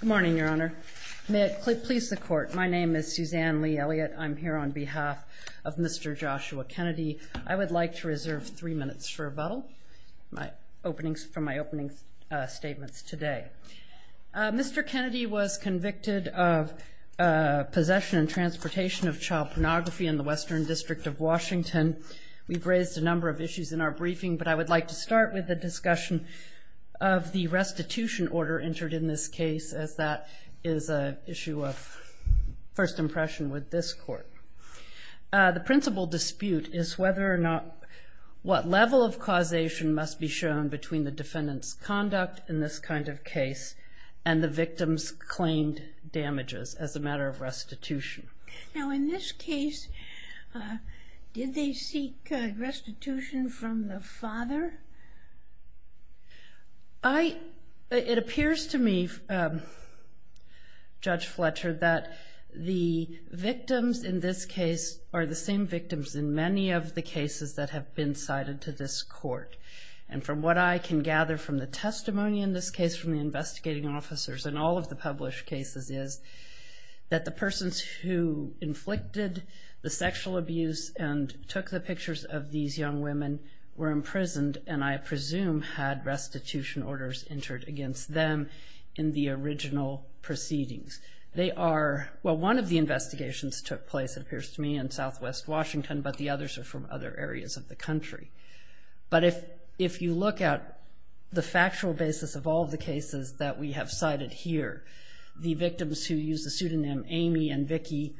Good morning, Your Honor. May it please the Court, my name is Suzanne Lee Elliott. I'm here on behalf of Mr. Joshua Kennedy. I would like to reserve three minutes for rebuttal from my opening statements today. Mr. Kennedy was convicted of possession and transportation of child pornography in the Western District of Washington. We've raised a number of issues in our briefing, but I would like to start with the discussion of the restitution order entered in this case, as that is an issue of first impression with this Court. The principal dispute is whether or not, what level of causation must be shown between the defendant's conduct in this kind of case and the victim's claimed damages as a matter of restitution. Now in this case, did they seek restitution from the father? It appears to me, Judge Fletcher, that the victims in this case are the same victims in many of the cases that have been cited to this Court. And from what I can gather from the testimony in this case from the investigating officers in all of the published cases is that the persons who inflicted the sexual abuse and took the pictures of these young women were imprisoned, and I presume had restitution orders entered against them in the original proceedings. Well, one of the investigations took place, it appears to me, in Southwest Washington, but the others are from other areas of the country. But if you look at the factual basis of all of the cases that we have cited here, the victims who use the pseudonym Amy and Vicky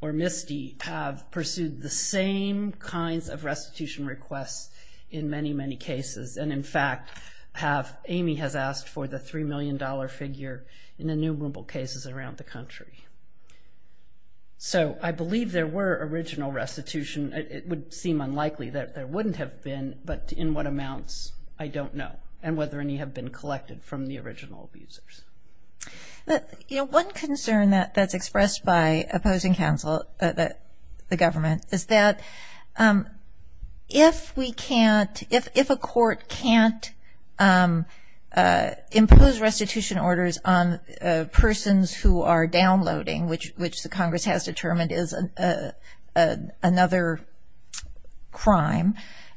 or Misty have pursued the same kinds of restitution requests in many, many cases. And in fact, Amy has asked for the $3 million figure in innumerable cases around the country. So I believe there were original restitution. It would seem unlikely that there wouldn't have been, but in what amounts, I don't know, and whether any have been collected from the original abusers. You know, one concern that's expressed by opposing counsel, the government, is that if we can't, if a court can't impose restitution orders on persons who are downloading, which the Congress has determined is another crime,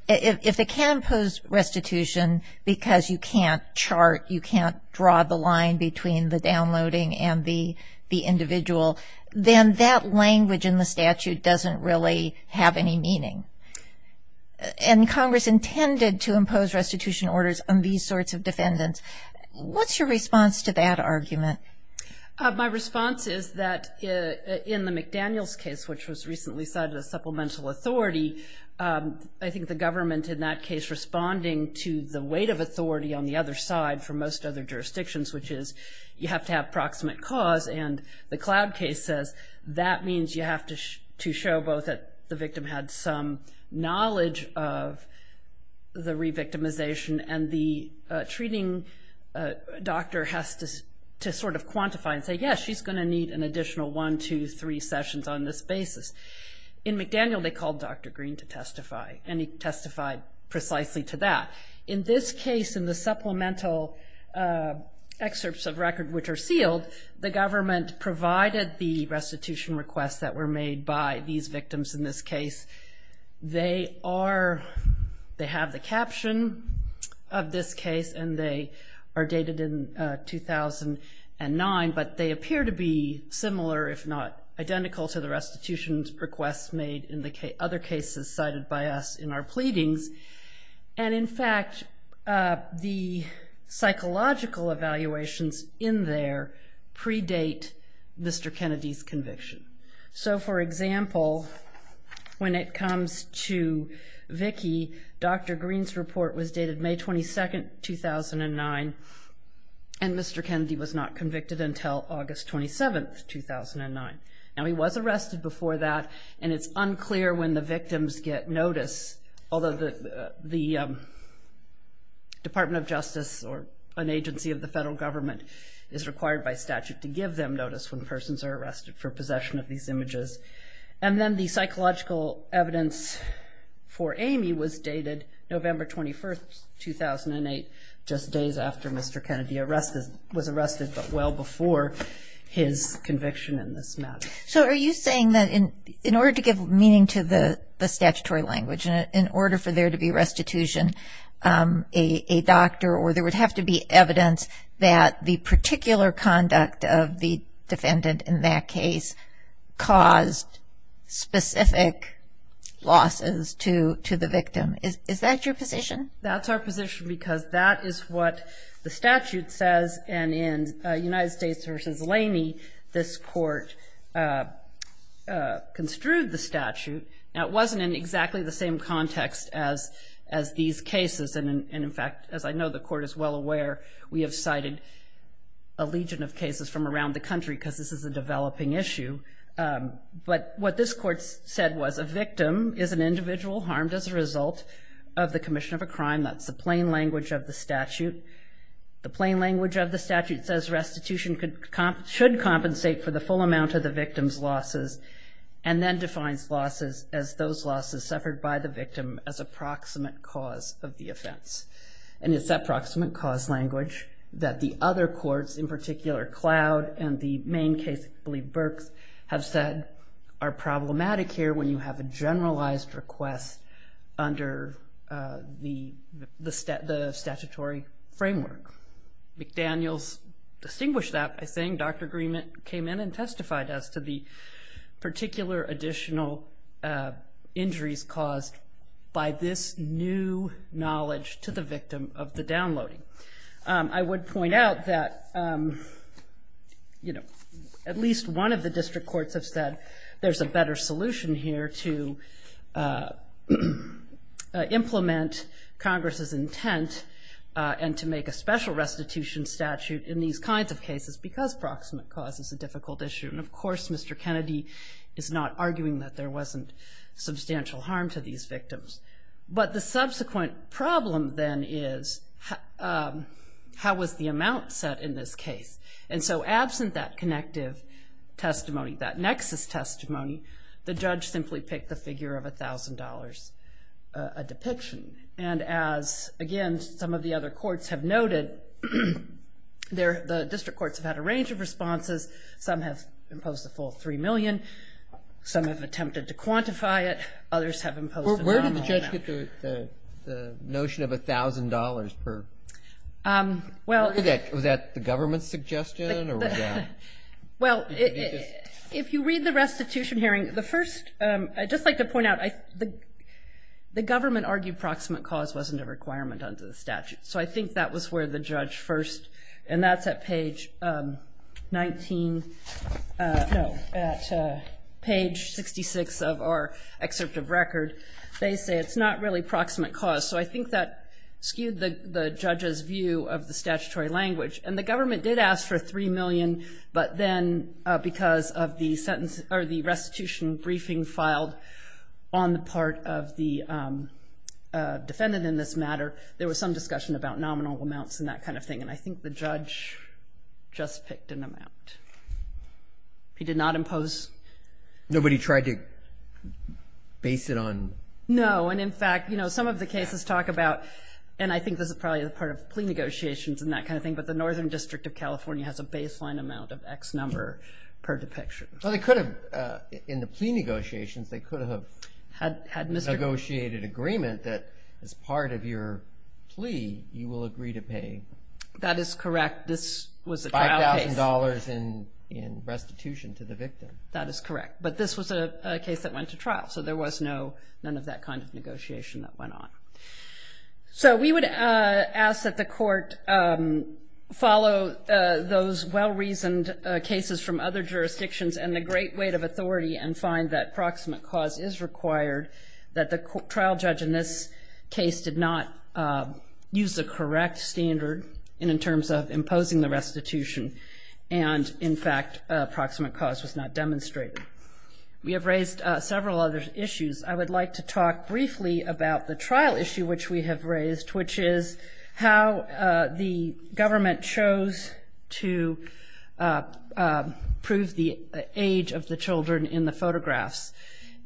if they can't impose restitution because you can't chart, you can't draw the line between the downloading and the individual, then that language in the statute doesn't really have any meaning. And Congress intended to impose restitution orders on these sorts of defendants. What's your response to that argument? My response is that in the McDaniels case, which was recently cited as supplemental authority, I think the government in that case responding to the weight of authority on the other side for most other jurisdictions, which is you have to have proximate cause. And the Cloud case says that means you have to show both that the victim had some knowledge of the revictimization, and the treating doctor has to sort of quantify and say, yes, she's going to need an additional one, two, three sessions on this basis. In McDaniel, they called Dr. Green to testify, and he testified precisely to that. In this case, in the supplemental excerpts of record, which are sealed, the government provided the restitution requests that were made by these victims in this case. They have the caption of this case, and they are dated in 2009, but they appear to be similar, if not identical, to the restitution requests made in the other cases cited by us in our pleadings. And in fact, the psychological evaluations in there predate Mr. Kennedy's conviction. So, for example, when it comes to Vicki, Dr. Green's report was dated May 22, 2009, and Mr. Kennedy was not convicted until August 27, 2009. Now, he was arrested before that, and it's unclear when the victims get notice, although the Department of Justice, or an agency of the federal government, is required by statute to give them notice when persons are arrested for possession of these images. And then the psychological evidence for Amy was dated November 21, 2008, just days after Mr. Kennedy was arrested, but well before his conviction in this matter. So, are you saying that in order to give meaning to the statutory language, in order for there to be restitution, a doctor, or there would have to be evidence that the particular conduct of the defendant in that case caused specific losses to the victim? Is that your position? That's our position because that is what the statute says, and in United States v. Laney, this court construed the statute. Now, it wasn't in exactly the same context as these cases, and in fact, as I know the court is well aware, we have cited a legion of cases from around the country because this is a developing issue. But what this court said was a victim is an individual harmed as a result of the commission of a crime. That's the plain language of the statute. The plain language of the statute says restitution should compensate for the full amount of the victim's losses, and then defines losses as those losses suffered by the victim as approximate cause of the offense. And it's that proximate cause language that the other courts, in particular, Cloud and the main case, I believe, Burks, have said are problematic here when you have a generalized request under the statutory framework. McDaniels distinguished that by saying Dr. Greenman came in and testified as to the particular additional injuries caused by this new knowledge to the victim of the downloading. I would point out that, you know, at least one of the district courts have said there's a better solution here to implement Congress's intent and to make a special restitution statute in these kinds of cases because proximate cause is a difficult issue. And of course, Mr. Kennedy is not arguing that there wasn't substantial harm to these victims. But the subsequent problem then is how was the amount set in this case? And so absent that connective testimony, that nexus testimony, the judge simply picked the figure of $1,000 a depiction. And as, again, some of the other courts have noted, the district courts have had a range of responses. Some have imposed a full $3 million. Some have attempted to quantify it. Others have imposed a nominal amount. Where did the judge get the notion of $1,000 per depiction? Was that the government's suggestion? Well, if you read the restitution hearing, the first — I'd just like to point out, the government argued proximate cause wasn't a requirement under the statute. So I think that was where the judge first — and that's at page 19 — no, at page 66 of our excerpt of record. They say it's not really proximate cause. So I think that skewed the judge's view of the statutory language. And the government did ask for $3 million, but then because of the restitution briefing filed on the part of the defendant in this matter, there was some discussion about nominal amounts and that kind of thing. And I think the judge just picked an amount. He did not impose — Nobody tried to base it on — No, and in fact, you know, some of the cases talk about — and I think this is probably part of plea negotiations and that kind of thing, but the Northern District of California has a baseline amount of X number per depiction. Well, they could have — in the plea negotiations, they could have negotiated agreement that as part of your plea, you will agree to pay — That is correct. This was a trial case. $5,000 in restitution to the victim. That is correct. But this was a case that went to trial, so there was no — none of that kind of negotiation that went on. So we would ask that the court follow those well-reasoned cases from other jurisdictions and the great weight of authority and find that proximate cause is required, that the trial judge in this case did not use the correct standard in terms of imposing the restitution, and in fact, proximate cause was not demonstrated. We have raised several other issues. I would like to talk briefly about the trial issue which we have raised, which is how the government chose to prove the age of the children in the photographs.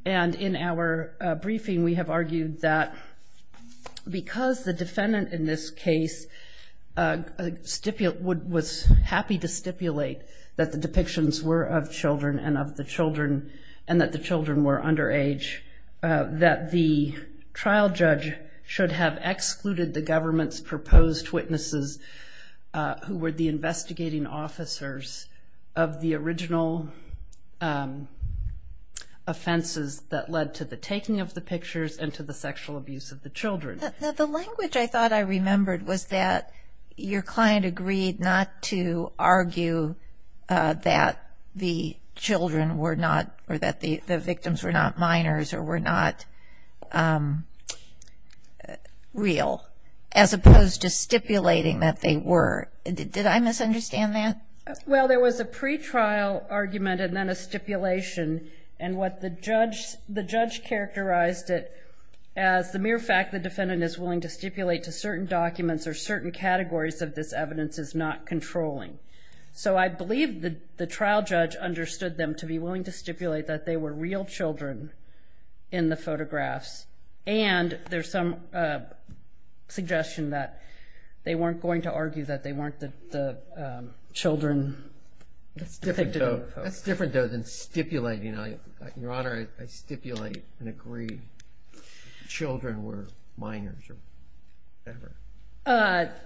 And in our briefing, we have argued that because the defendant in this case was happy to stipulate that the depictions were of children and of the children and that the children were underage, that the trial judge should have excluded the government's proposed witnesses who were the investigating officers of the original offenses that led to the taking of the pictures and to the sexual abuse of the children. The language I thought I remembered was that your client agreed not to argue that the children were not — or that the victims were not minors or were not real, as opposed to stipulating that they were. Did I misunderstand that? Well, there was a pretrial argument and then a stipulation, and what the judge — the judge characterized it as the mere fact the defendant is willing to stipulate to certain documents or certain categories of this evidence is not controlling. So I believe the trial judge understood them to be willing to stipulate that they were real children in the photographs, and there's some suggestion that they weren't going to argue that they weren't the children depicted in the photos. That's different, though, than stipulating. Your Honor, I stipulate and agree children were minors or whatever.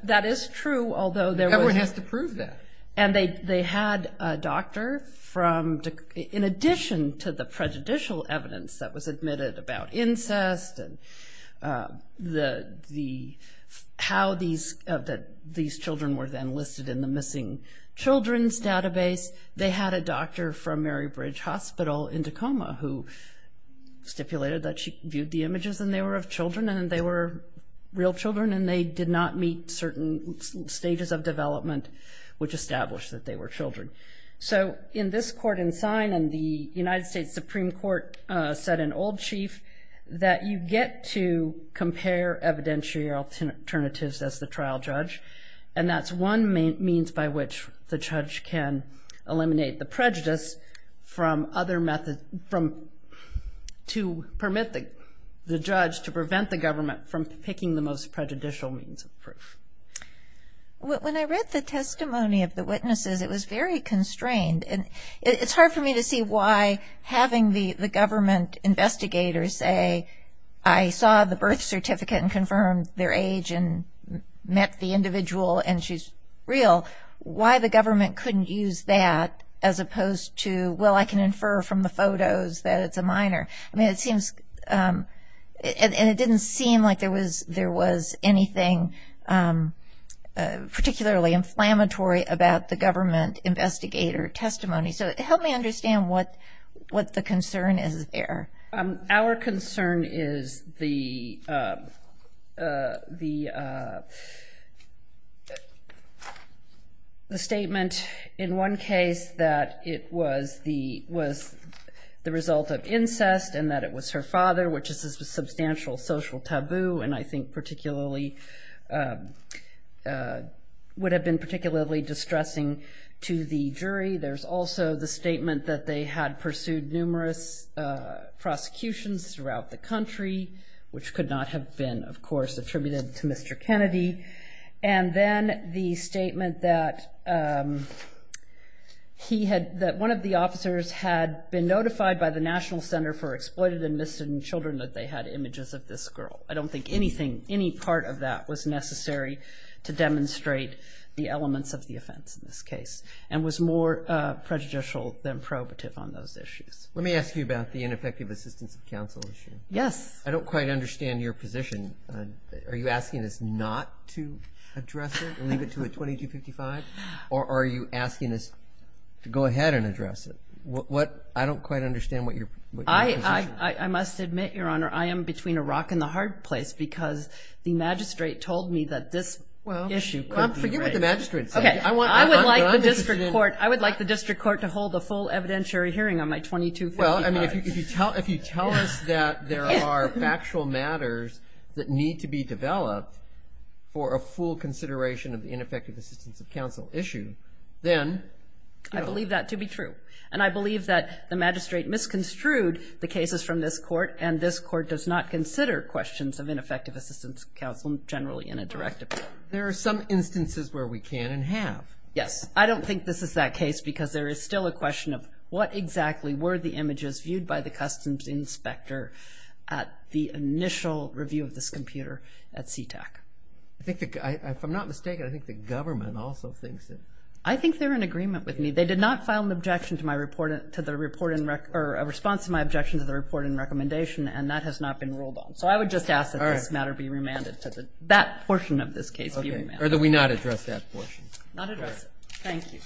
That is true, although there was — Everyone has to prove that. And they had a doctor from — in addition to the prejudicial evidence that was admitted about incest and the — how these — that these children were then listed in the missing children's database, they had a doctor from Mary Bridge Hospital in Tacoma who stipulated that she viewed the images and they were of children and they were real children and they did not meet certain stages of development which established that they were children. So in this court in sign, and the United States Supreme Court said in Old Chief, that you get to compare evidentiary alternatives as the trial judge, and that's one means by which the judge can eliminate the prejudice from other — to permit the judge to prevent the government from picking the most prejudicial means of proof. When I read the testimony of the witnesses, it was very constrained. And it's hard for me to see why having the government investigators say, I saw the birth certificate and confirmed their age and met the individual and she's real, why the government couldn't use that as opposed to, well, I can infer from the photos that it's a minor. I mean, it seems — and it didn't seem like there was anything particularly inflammatory about the government investigator testimony. So help me understand what the concern is there. Our concern is the statement in one case that it was the result of incest and that it was her father, which is a substantial social taboo and I think particularly — would have been particularly distressing to the jury. There's also the statement that they had pursued numerous prosecutions throughout the country, which could not have been, of course, attributed to Mr. Kennedy. And then the statement that he had — that one of the officers had been notified by the National Center for Exploited and Missing Children that they had images of this girl. I don't think anything, any part of that was necessary to demonstrate the elements of the offense in this case and was more prejudicial than probative on those issues. Let me ask you about the ineffective assistance of counsel issue. Yes. I don't quite understand your position. Are you asking us not to address it and leave it to a 2255? Or are you asking us to go ahead and address it? What — I don't quite understand what your position is. I must admit, Your Honor, I am between a rock and a hard place because the magistrate told me that this issue could be — Well, I'm for you what the magistrate said. Okay. I would like the district court to hold a full evidentiary hearing on my 2255. Well, I mean, if you tell us that there are factual matters that need to be developed for a full consideration of the ineffective assistance of counsel issue, then — I believe that to be true. And I believe that the magistrate misconstrued the cases from this court, and this court does not consider questions of ineffective assistance of counsel generally in a directive. There are some instances where we can and have. Yes. I don't think this is that case because there is still a question of what exactly were the images viewed by the customs inspector at the initial review of this computer at CTAC. I think that — if I'm not mistaken, I think the government also thinks that — I think they're in agreement with me. They did not file an objection to my report — to the report in — or a response to my objection to the report in recommendation, and that has not been ruled on. So I would just ask that this matter be remanded. That portion of this case be remanded. Okay. Or do we not address that portion? Not address it. Thank you.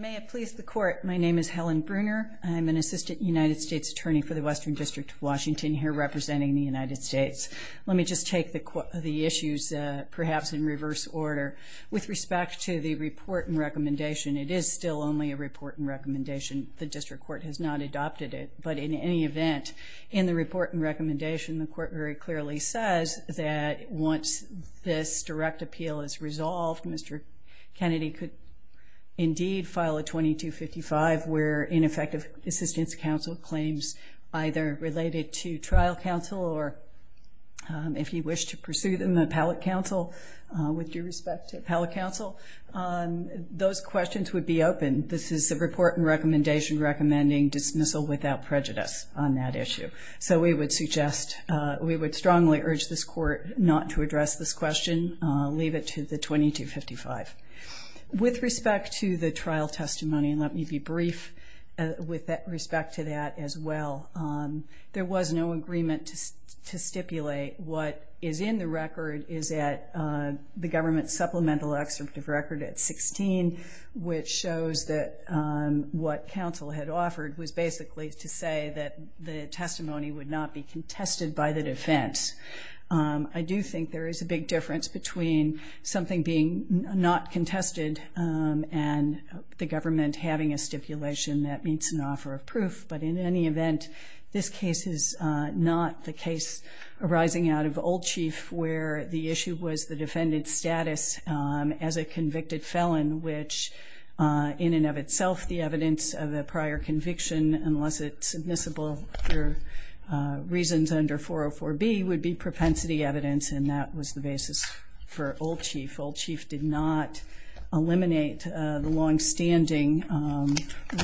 May it please the Court, my name is Helen Bruner. I'm an assistant United States attorney for the Western District of Washington here representing the United States. Let me just take the issues perhaps in reverse order. With respect to the report in recommendation, it is still only a report in recommendation. The district court has not adopted it. But in any event, in the report in recommendation, the court very clearly says that once this direct appeal is resolved, Mr. Kennedy could indeed file a 2255 where ineffective assistance counsel claims either related to trial counsel or, if he wished to pursue them, appellate counsel with due respect to appellate counsel. Those questions would be open. This is a report in recommendation recommending dismissal without prejudice on that issue. So we would suggest — we would strongly urge this court not to address this question, leave it to the 2255. With respect to the trial testimony, and let me be brief with respect to that as well, there was no agreement to stipulate what is in the record is at the government's supplemental excerpt of record at 16, which shows that what counsel had offered was basically to say that the testimony would not be contested by the defense. I do think there is a big difference between something being not contested and the government having a stipulation that meets an offer of proof. But in any event, this case is not the case arising out of Old Chief where the issue was the defendant's status as a convicted felon, which in and of itself the evidence of a prior conviction, unless it's admissible for reasons under 404B, would be propensity evidence, and that was the basis for Old Chief. Old Chief did not eliminate the longstanding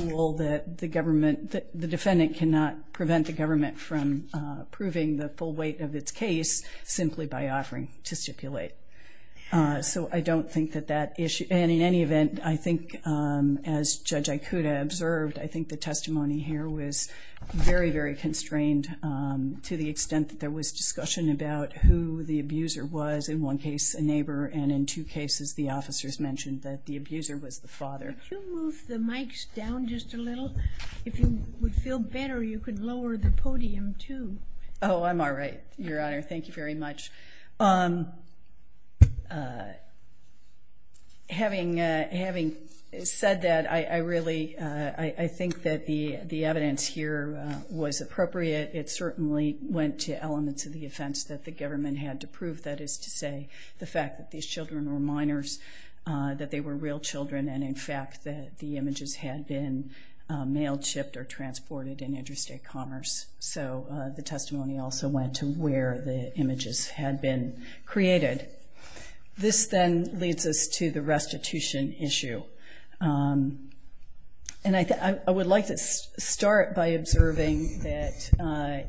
rule that the government — the defendant cannot prevent the government from proving the full weight of its case simply by offering to stipulate. So I don't think that that issue — and in any event, I think as Judge Ikuda observed, I think the testimony here was very, very constrained to the extent that there was discussion about who the father was. In two cases, the officers mentioned that the abuser was the father. Could you move the mics down just a little? If you would feel better, you could lower the podium, too. Oh, I'm all right, Your Honor. Thank you very much. Having said that, I really — I think that the evidence here was appropriate. It certainly went to elements of the offense that the government had to prove, that is to say the fact that these children were minors, that they were real children, and in fact that the images had been mail-chipped or transported in interstate commerce. So the testimony also went to where the images had been created. This then leads us to the restitution issue. And I would like to start by observing that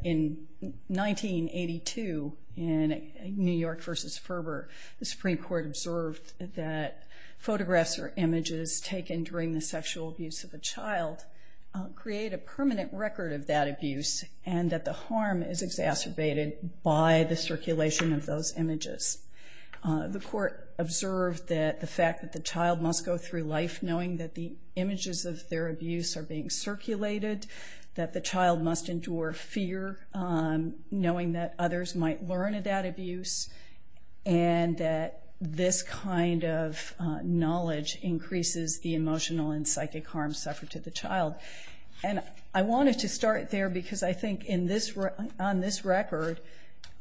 in 1982 in New York v. Ferber, the Supreme Court observed that photographs or images taken during the sexual abuse of a child create a permanent record of that abuse and that the harm is exacerbated by the circulation of those images. The court observed that the fact that the child must go through life knowing that the images of their abuse are being circulated, that the child must endure fear knowing that others might learn about abuse, and that this kind of knowledge increases the emotional and psychic harm suffered to the child. And I wanted to start there because I think on this record,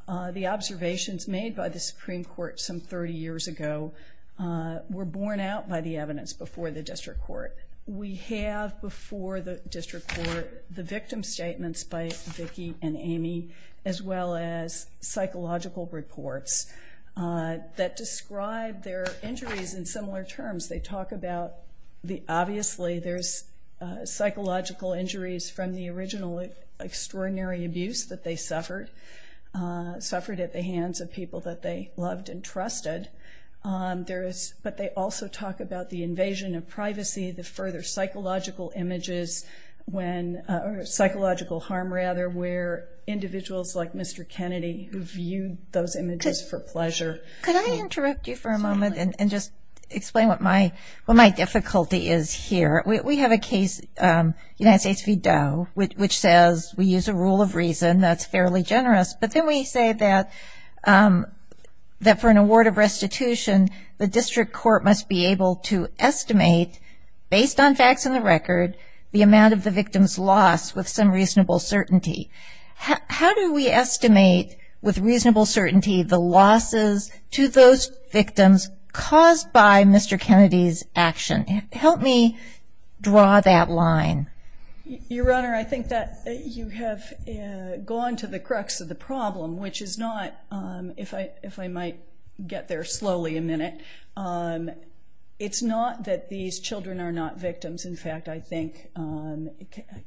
the observations made by the Supreme Court some 30 years ago were borne out by the evidence before the district court. We have before the district court the victim statements by Vicki and Amy, as well as psychological reports that describe their injuries in similar terms. They talk about obviously there's psychological injuries from the original extraordinary abuse that they suffered, suffered at the hands of people that they loved and trusted. But they also talk about the invasion of privacy, the further psychological images when or psychological harm rather where individuals like Mr. Kennedy who viewed those images for pleasure. Can I interrupt you for a moment and just explain what my difficulty is here? We have a case, United States v. Doe, which says we use a rule of reason that's fairly generous, but then we say that for an award of restitution, the district court must be able to estimate, based on facts in the record, the amount of the victim's loss with some reasonable certainty. How do we estimate with reasonable certainty the losses to those victims caused by Mr. Kennedy's action? Help me draw that line. Your Honor, I think that you have gone to the crux of the problem, which is not, if I might get there slowly a minute, it's not that these children are not victims. In fact, I think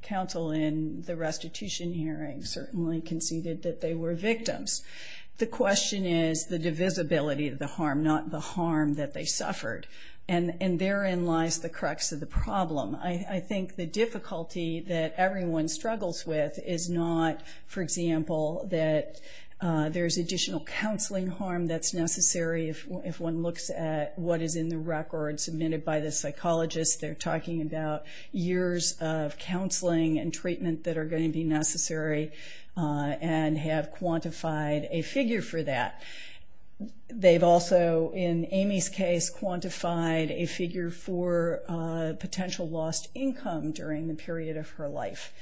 counsel in the restitution hearing certainly conceded that they were victims. The question is the divisibility of the harm, not the harm that they suffered. And therein lies the crux of the problem. I think the difficulty that everyone struggles with is not, for example, that there's additional counseling harm that's necessary if one looks at what is in the record submitted by the psychologist. They're talking about years of counseling and treatment that are going to be necessary and have quantified a figure for that. They've also, in Amy's case, quantified a figure for potential lost income during the period of her life.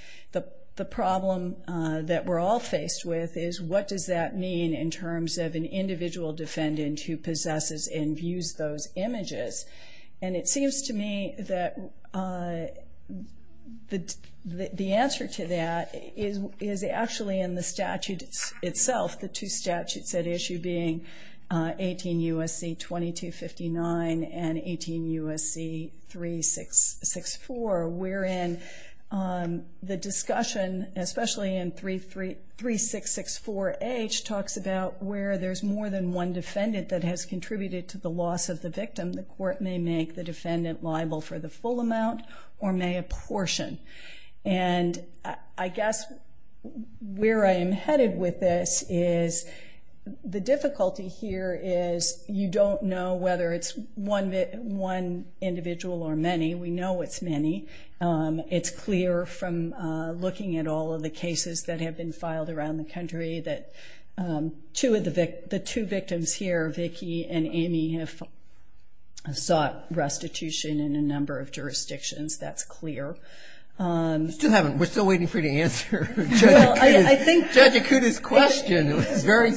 The problem that we're all faced with is what does that mean in terms of an individual defendant who possesses and views those images? And it seems to me that the answer to that is actually in the statute itself, the two statutes at issue being 18 U.S.C. 2259 and 18 U.S.C. 3664, wherein the discussion, especially in 3664H, talks about where there's more than one defendant that has contributed to the loss of the victim. The court may make the defendant liable for the full amount or may apportion. And I guess where I am headed with this is the difficulty here is you don't know whether it's one individual or many. We know it's many. It's clear from looking at all of the cases that have been filed around the country that the two victims here, Vicki and Amy, have sought restitution in a number of jurisdictions. That's clear. We're still waiting for you to answer Judge Akuta's question. You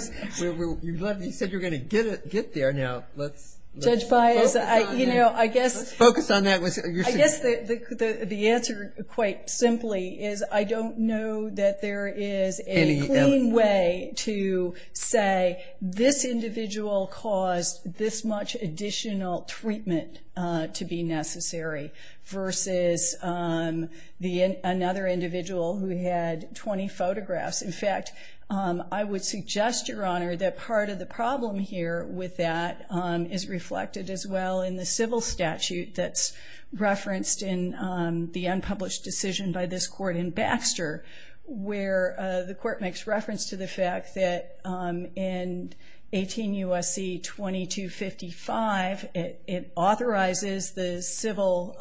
said you were going to get there. Now let's focus on that. I guess the answer, quite simply, is I don't know that there is a clean way to say this individual caused this much additional treatment to be necessary, versus another individual who had 20 photographs. In fact, I would suggest, Your Honor, that part of the problem here with that is reflected as well in the civil statute that's referenced in the unpublished decision by this court in Baxter, where the court makes reference to the fact that in 18 U.S.C. 2255, it authorizes the civil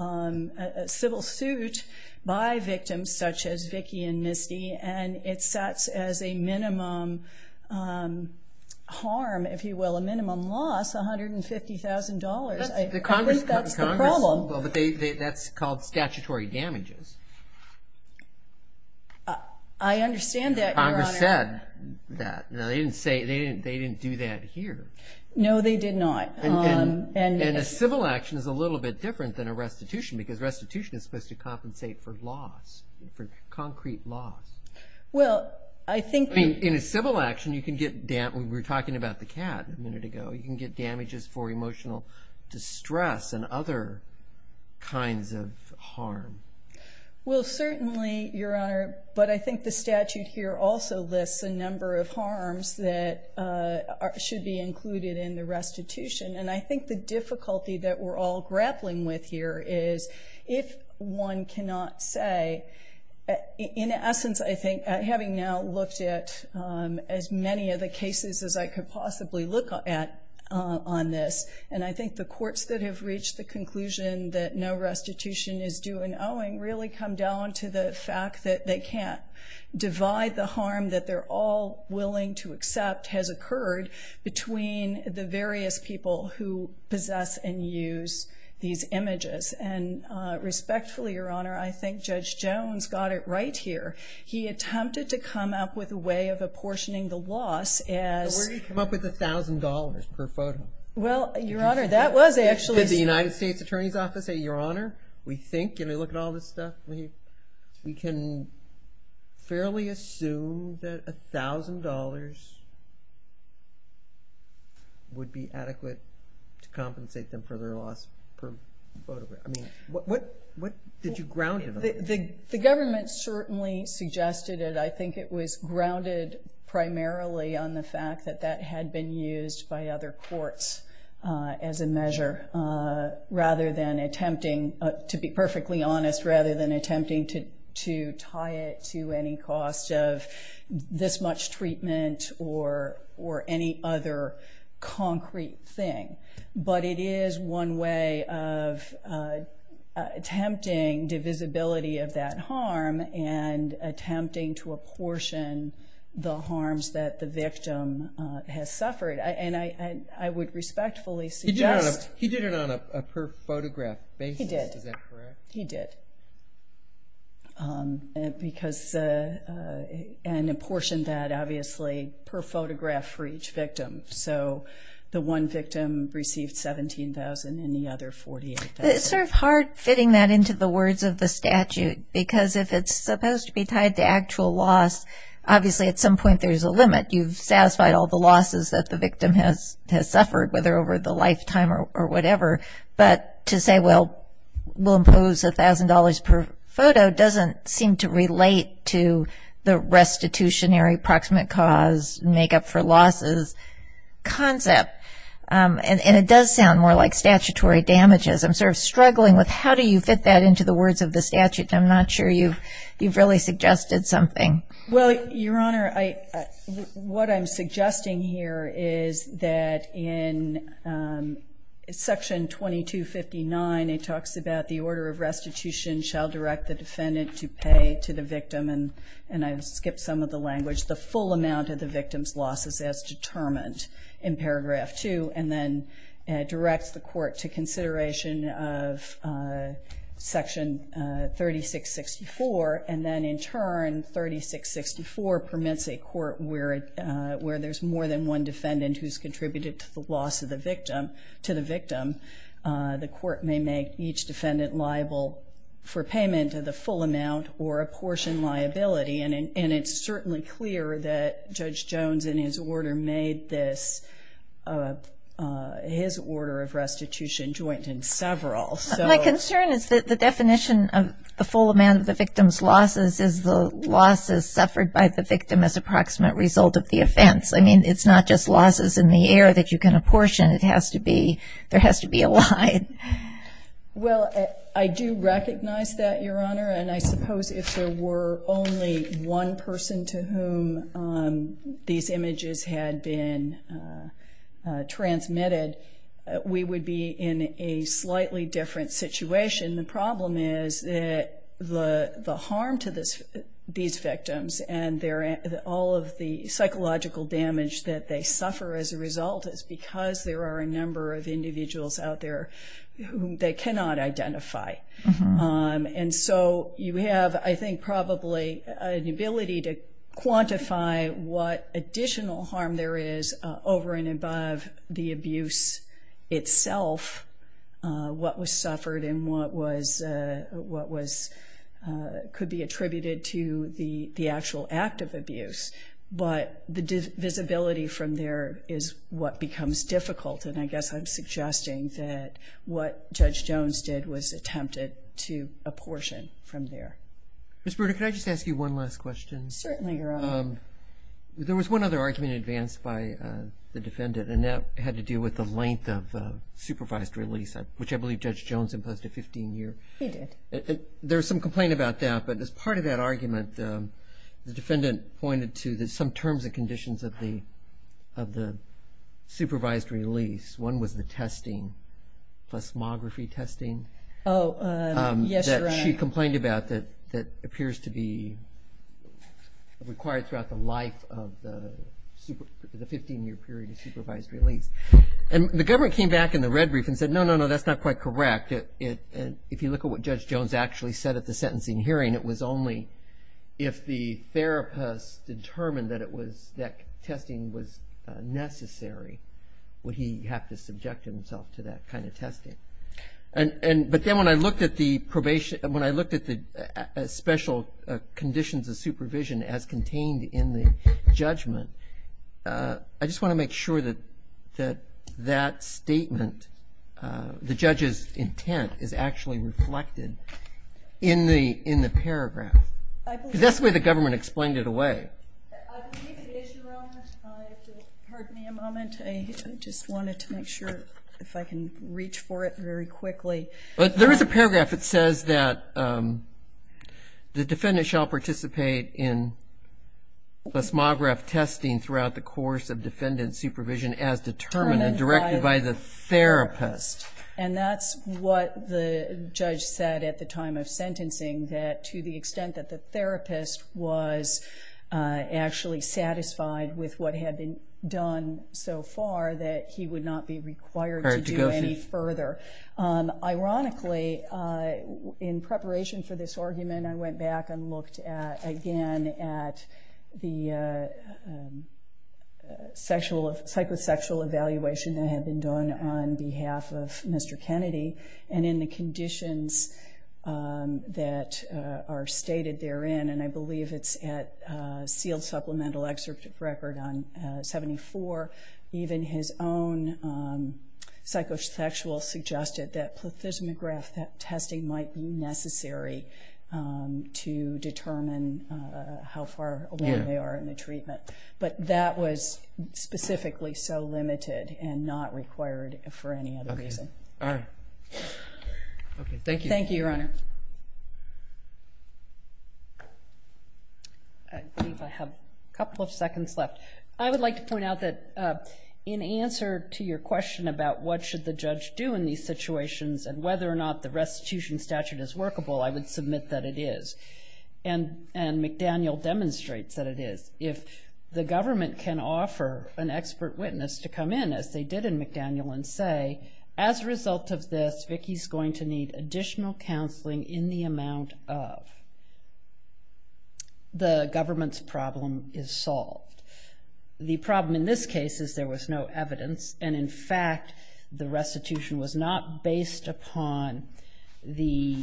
suit by victims such as Vicki and Misty, and it sets as a minimum harm, if you will, a minimum loss, $150,000. I think that's the problem. That's called statutory damages. I understand that, Your Honor. Congress said that. They didn't do that here. No, they did not. And a civil action is a little bit different than a restitution because restitution is supposed to compensate for loss, for concrete loss. In a civil action, you can get damage. We were talking about the cat a minute ago. You can get damages for emotional distress and other kinds of harm. Well, certainly, Your Honor, but I think the statute here also lists a number of harms that should be included in the restitution, and I think the difficulty that we're all grappling with here is if one cannot say, in essence, I think, having now looked at as many of the cases as I could possibly look at on this, and I think the courts that have reached the conclusion that no the fact that they can't divide the harm that they're all willing to accept has occurred between the various people who possess and use these images. And respectfully, Your Honor, I think Judge Jones got it right here. He attempted to come up with a way of apportioning the loss as – But where do you come up with $1,000 per photo? Well, Your Honor, that was actually – Did the United States Attorney's Office say, Your Honor, we think, and we look at all this stuff, we can fairly assume that $1,000 would be adequate to compensate them for their loss per photograph. I mean, what did you ground it on? The government certainly suggested it. I think it was grounded primarily on the fact that that had been used by other rather than attempting, to be perfectly honest, rather than attempting to tie it to any cost of this much treatment or any other concrete thing. But it is one way of attempting divisibility of that harm and attempting to apportion the harms that the victim has suffered. And I would respectfully suggest – He did it on a per photograph basis, is that correct? He did. Because – and apportioned that, obviously, per photograph for each victim. So the one victim received $17,000 and the other $48,000. It's sort of hard fitting that into the words of the statute because if it's supposed to be tied to actual loss, obviously at some point there's a limit. You've satisfied all the losses that the victim has suffered, whether over the lifetime or whatever. But to say, well, we'll impose $1,000 per photo doesn't seem to relate to the restitutionary proximate cause, make up for losses concept. And it does sound more like statutory damages. I'm sort of struggling with how do you fit that into the words of the statute. I'm not sure you've really suggested something. Well, Your Honor, what I'm suggesting here is that in Section 2259, it talks about the order of restitution shall direct the defendant to pay to the victim – and I've skipped some of the language – the full amount of the victim's losses as determined in Paragraph 2, and then directs the court to consideration of Section 3664, and then in turn 3664 permits a court where there's more than one defendant who's contributed to the loss of the victim, the court may make each defendant liable for payment of the full amount or a portion liability. And it's certainly clear that Judge Jones, in his order, made his order of restitution joint in several. My concern is that the definition of the full amount of the victim's losses is the losses suffered by the victim as a proximate result of the offense. I mean, it's not just losses in the air that you can apportion. There has to be a line. Well, I do recognize that, Your Honor, and I suppose if there were only one person to whom these images had been transmitted, we would be in a slightly different situation. The problem is that the harm to these victims and all of the psychological damage that they suffer as a result is because there are a number of individuals out there whom they cannot identify. And so you have, I think, probably an ability to quantify what additional harm there is over and above the abuse itself, what was suffered and what could be attributed to the actual act of abuse. But the visibility from there is what becomes difficult, and I guess I'm suggesting that what Judge Jones did was attempted to apportion from there. Ms. Bruder, could I just ask you one last question? Certainly, Your Honor. There was one other argument advanced by the defendant, and that had to do with the length of supervised release, which I believe Judge Jones imposed a 15-year. He did. There was some complaint about that, but as part of that argument, the defendant pointed to some terms and conditions of the supervised release. One was the testing, plasmography testing. Oh, yes, Your Honor. That's what she complained about that appears to be required throughout the life of the 15-year period of supervised release. And the government came back in the red brief and said, no, no, no, that's not quite correct. If you look at what Judge Jones actually said at the sentencing hearing, it was only if the therapist determined that testing was necessary would he have to subject himself to that kind of testing. But then when I looked at the probation, when I looked at the special conditions of supervision as contained in the judgment, I just want to make sure that that statement, the judge's intent, is actually reflected in the paragraph. Because that's the way the government explained it away. I believe the issue, Your Honor, if you'll pardon me a moment, I just wanted to make sure if I can reach for it very quickly. There is a paragraph that says that the defendant shall participate in plasmograph testing throughout the course of defendant supervision as determined and directed by the therapist. And that's what the judge said at the time of sentencing, that to the extent that the therapist was actually satisfied with what had been done so far, that he would not be required to do any further. Ironically, in preparation for this argument, I went back and looked again at the psychosexual evaluation that had been done on behalf of Mr. Kennedy. And in the conditions that are stated therein, and I believe it's at sealed supplemental excerpt record on 74, even his own psychosexual suggested that plasmograph testing might be necessary to determine how far away they are in the treatment. But that was specifically so limited and not required for any other reason. All right. Okay, thank you. Thank you, Your Honor. I think I have a couple of seconds left. I would like to point out that in answer to your question about what should the judge do in these situations and whether or not the restitution statute is workable, I would submit that it is. And McDaniel demonstrates that it is. If the government can offer an expert witness to come in, as they did in McDaniel, and say, as a result of this, Vicki's going to need additional counseling in the amount of the government's problem is solved. The problem in this case is there was no evidence, and in fact the restitution was not based upon the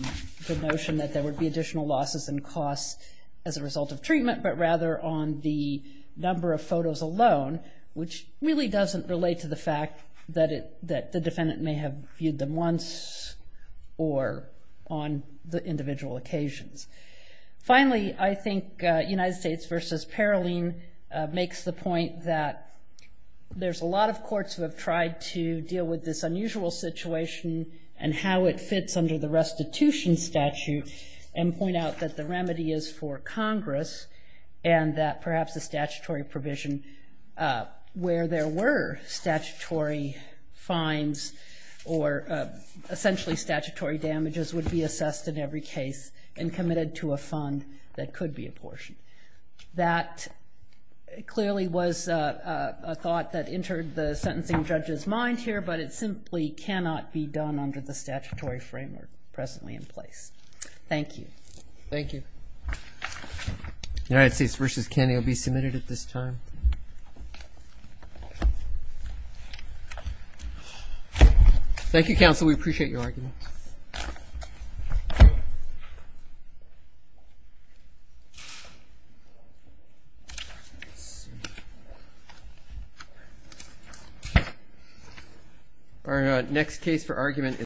notion that there would be additional losses and costs as a result of treatment, but rather on the number of photos alone, which really doesn't relate to the fact that the defendant may have viewed them once or on the individual occasions. Finally, I think United States v. Paroline makes the point that there's a lot of courts who have tried to deal with this unusual situation and how it fits under the restitution statute and point out that the remedy is for Congress and that perhaps a statutory provision where there were statutory fines or essentially statutory damages would be assessed in every case and committed to a fund that could be apportioned. That clearly was a thought that entered the sentencing judge's mind here, but it simply cannot be done under the statutory framework presently in place. Thank you. Thank you. United States v. Kennedy will be submitted at this time. Thank you, counsel. Counsel, we appreciate your argument. Our next case for argument is.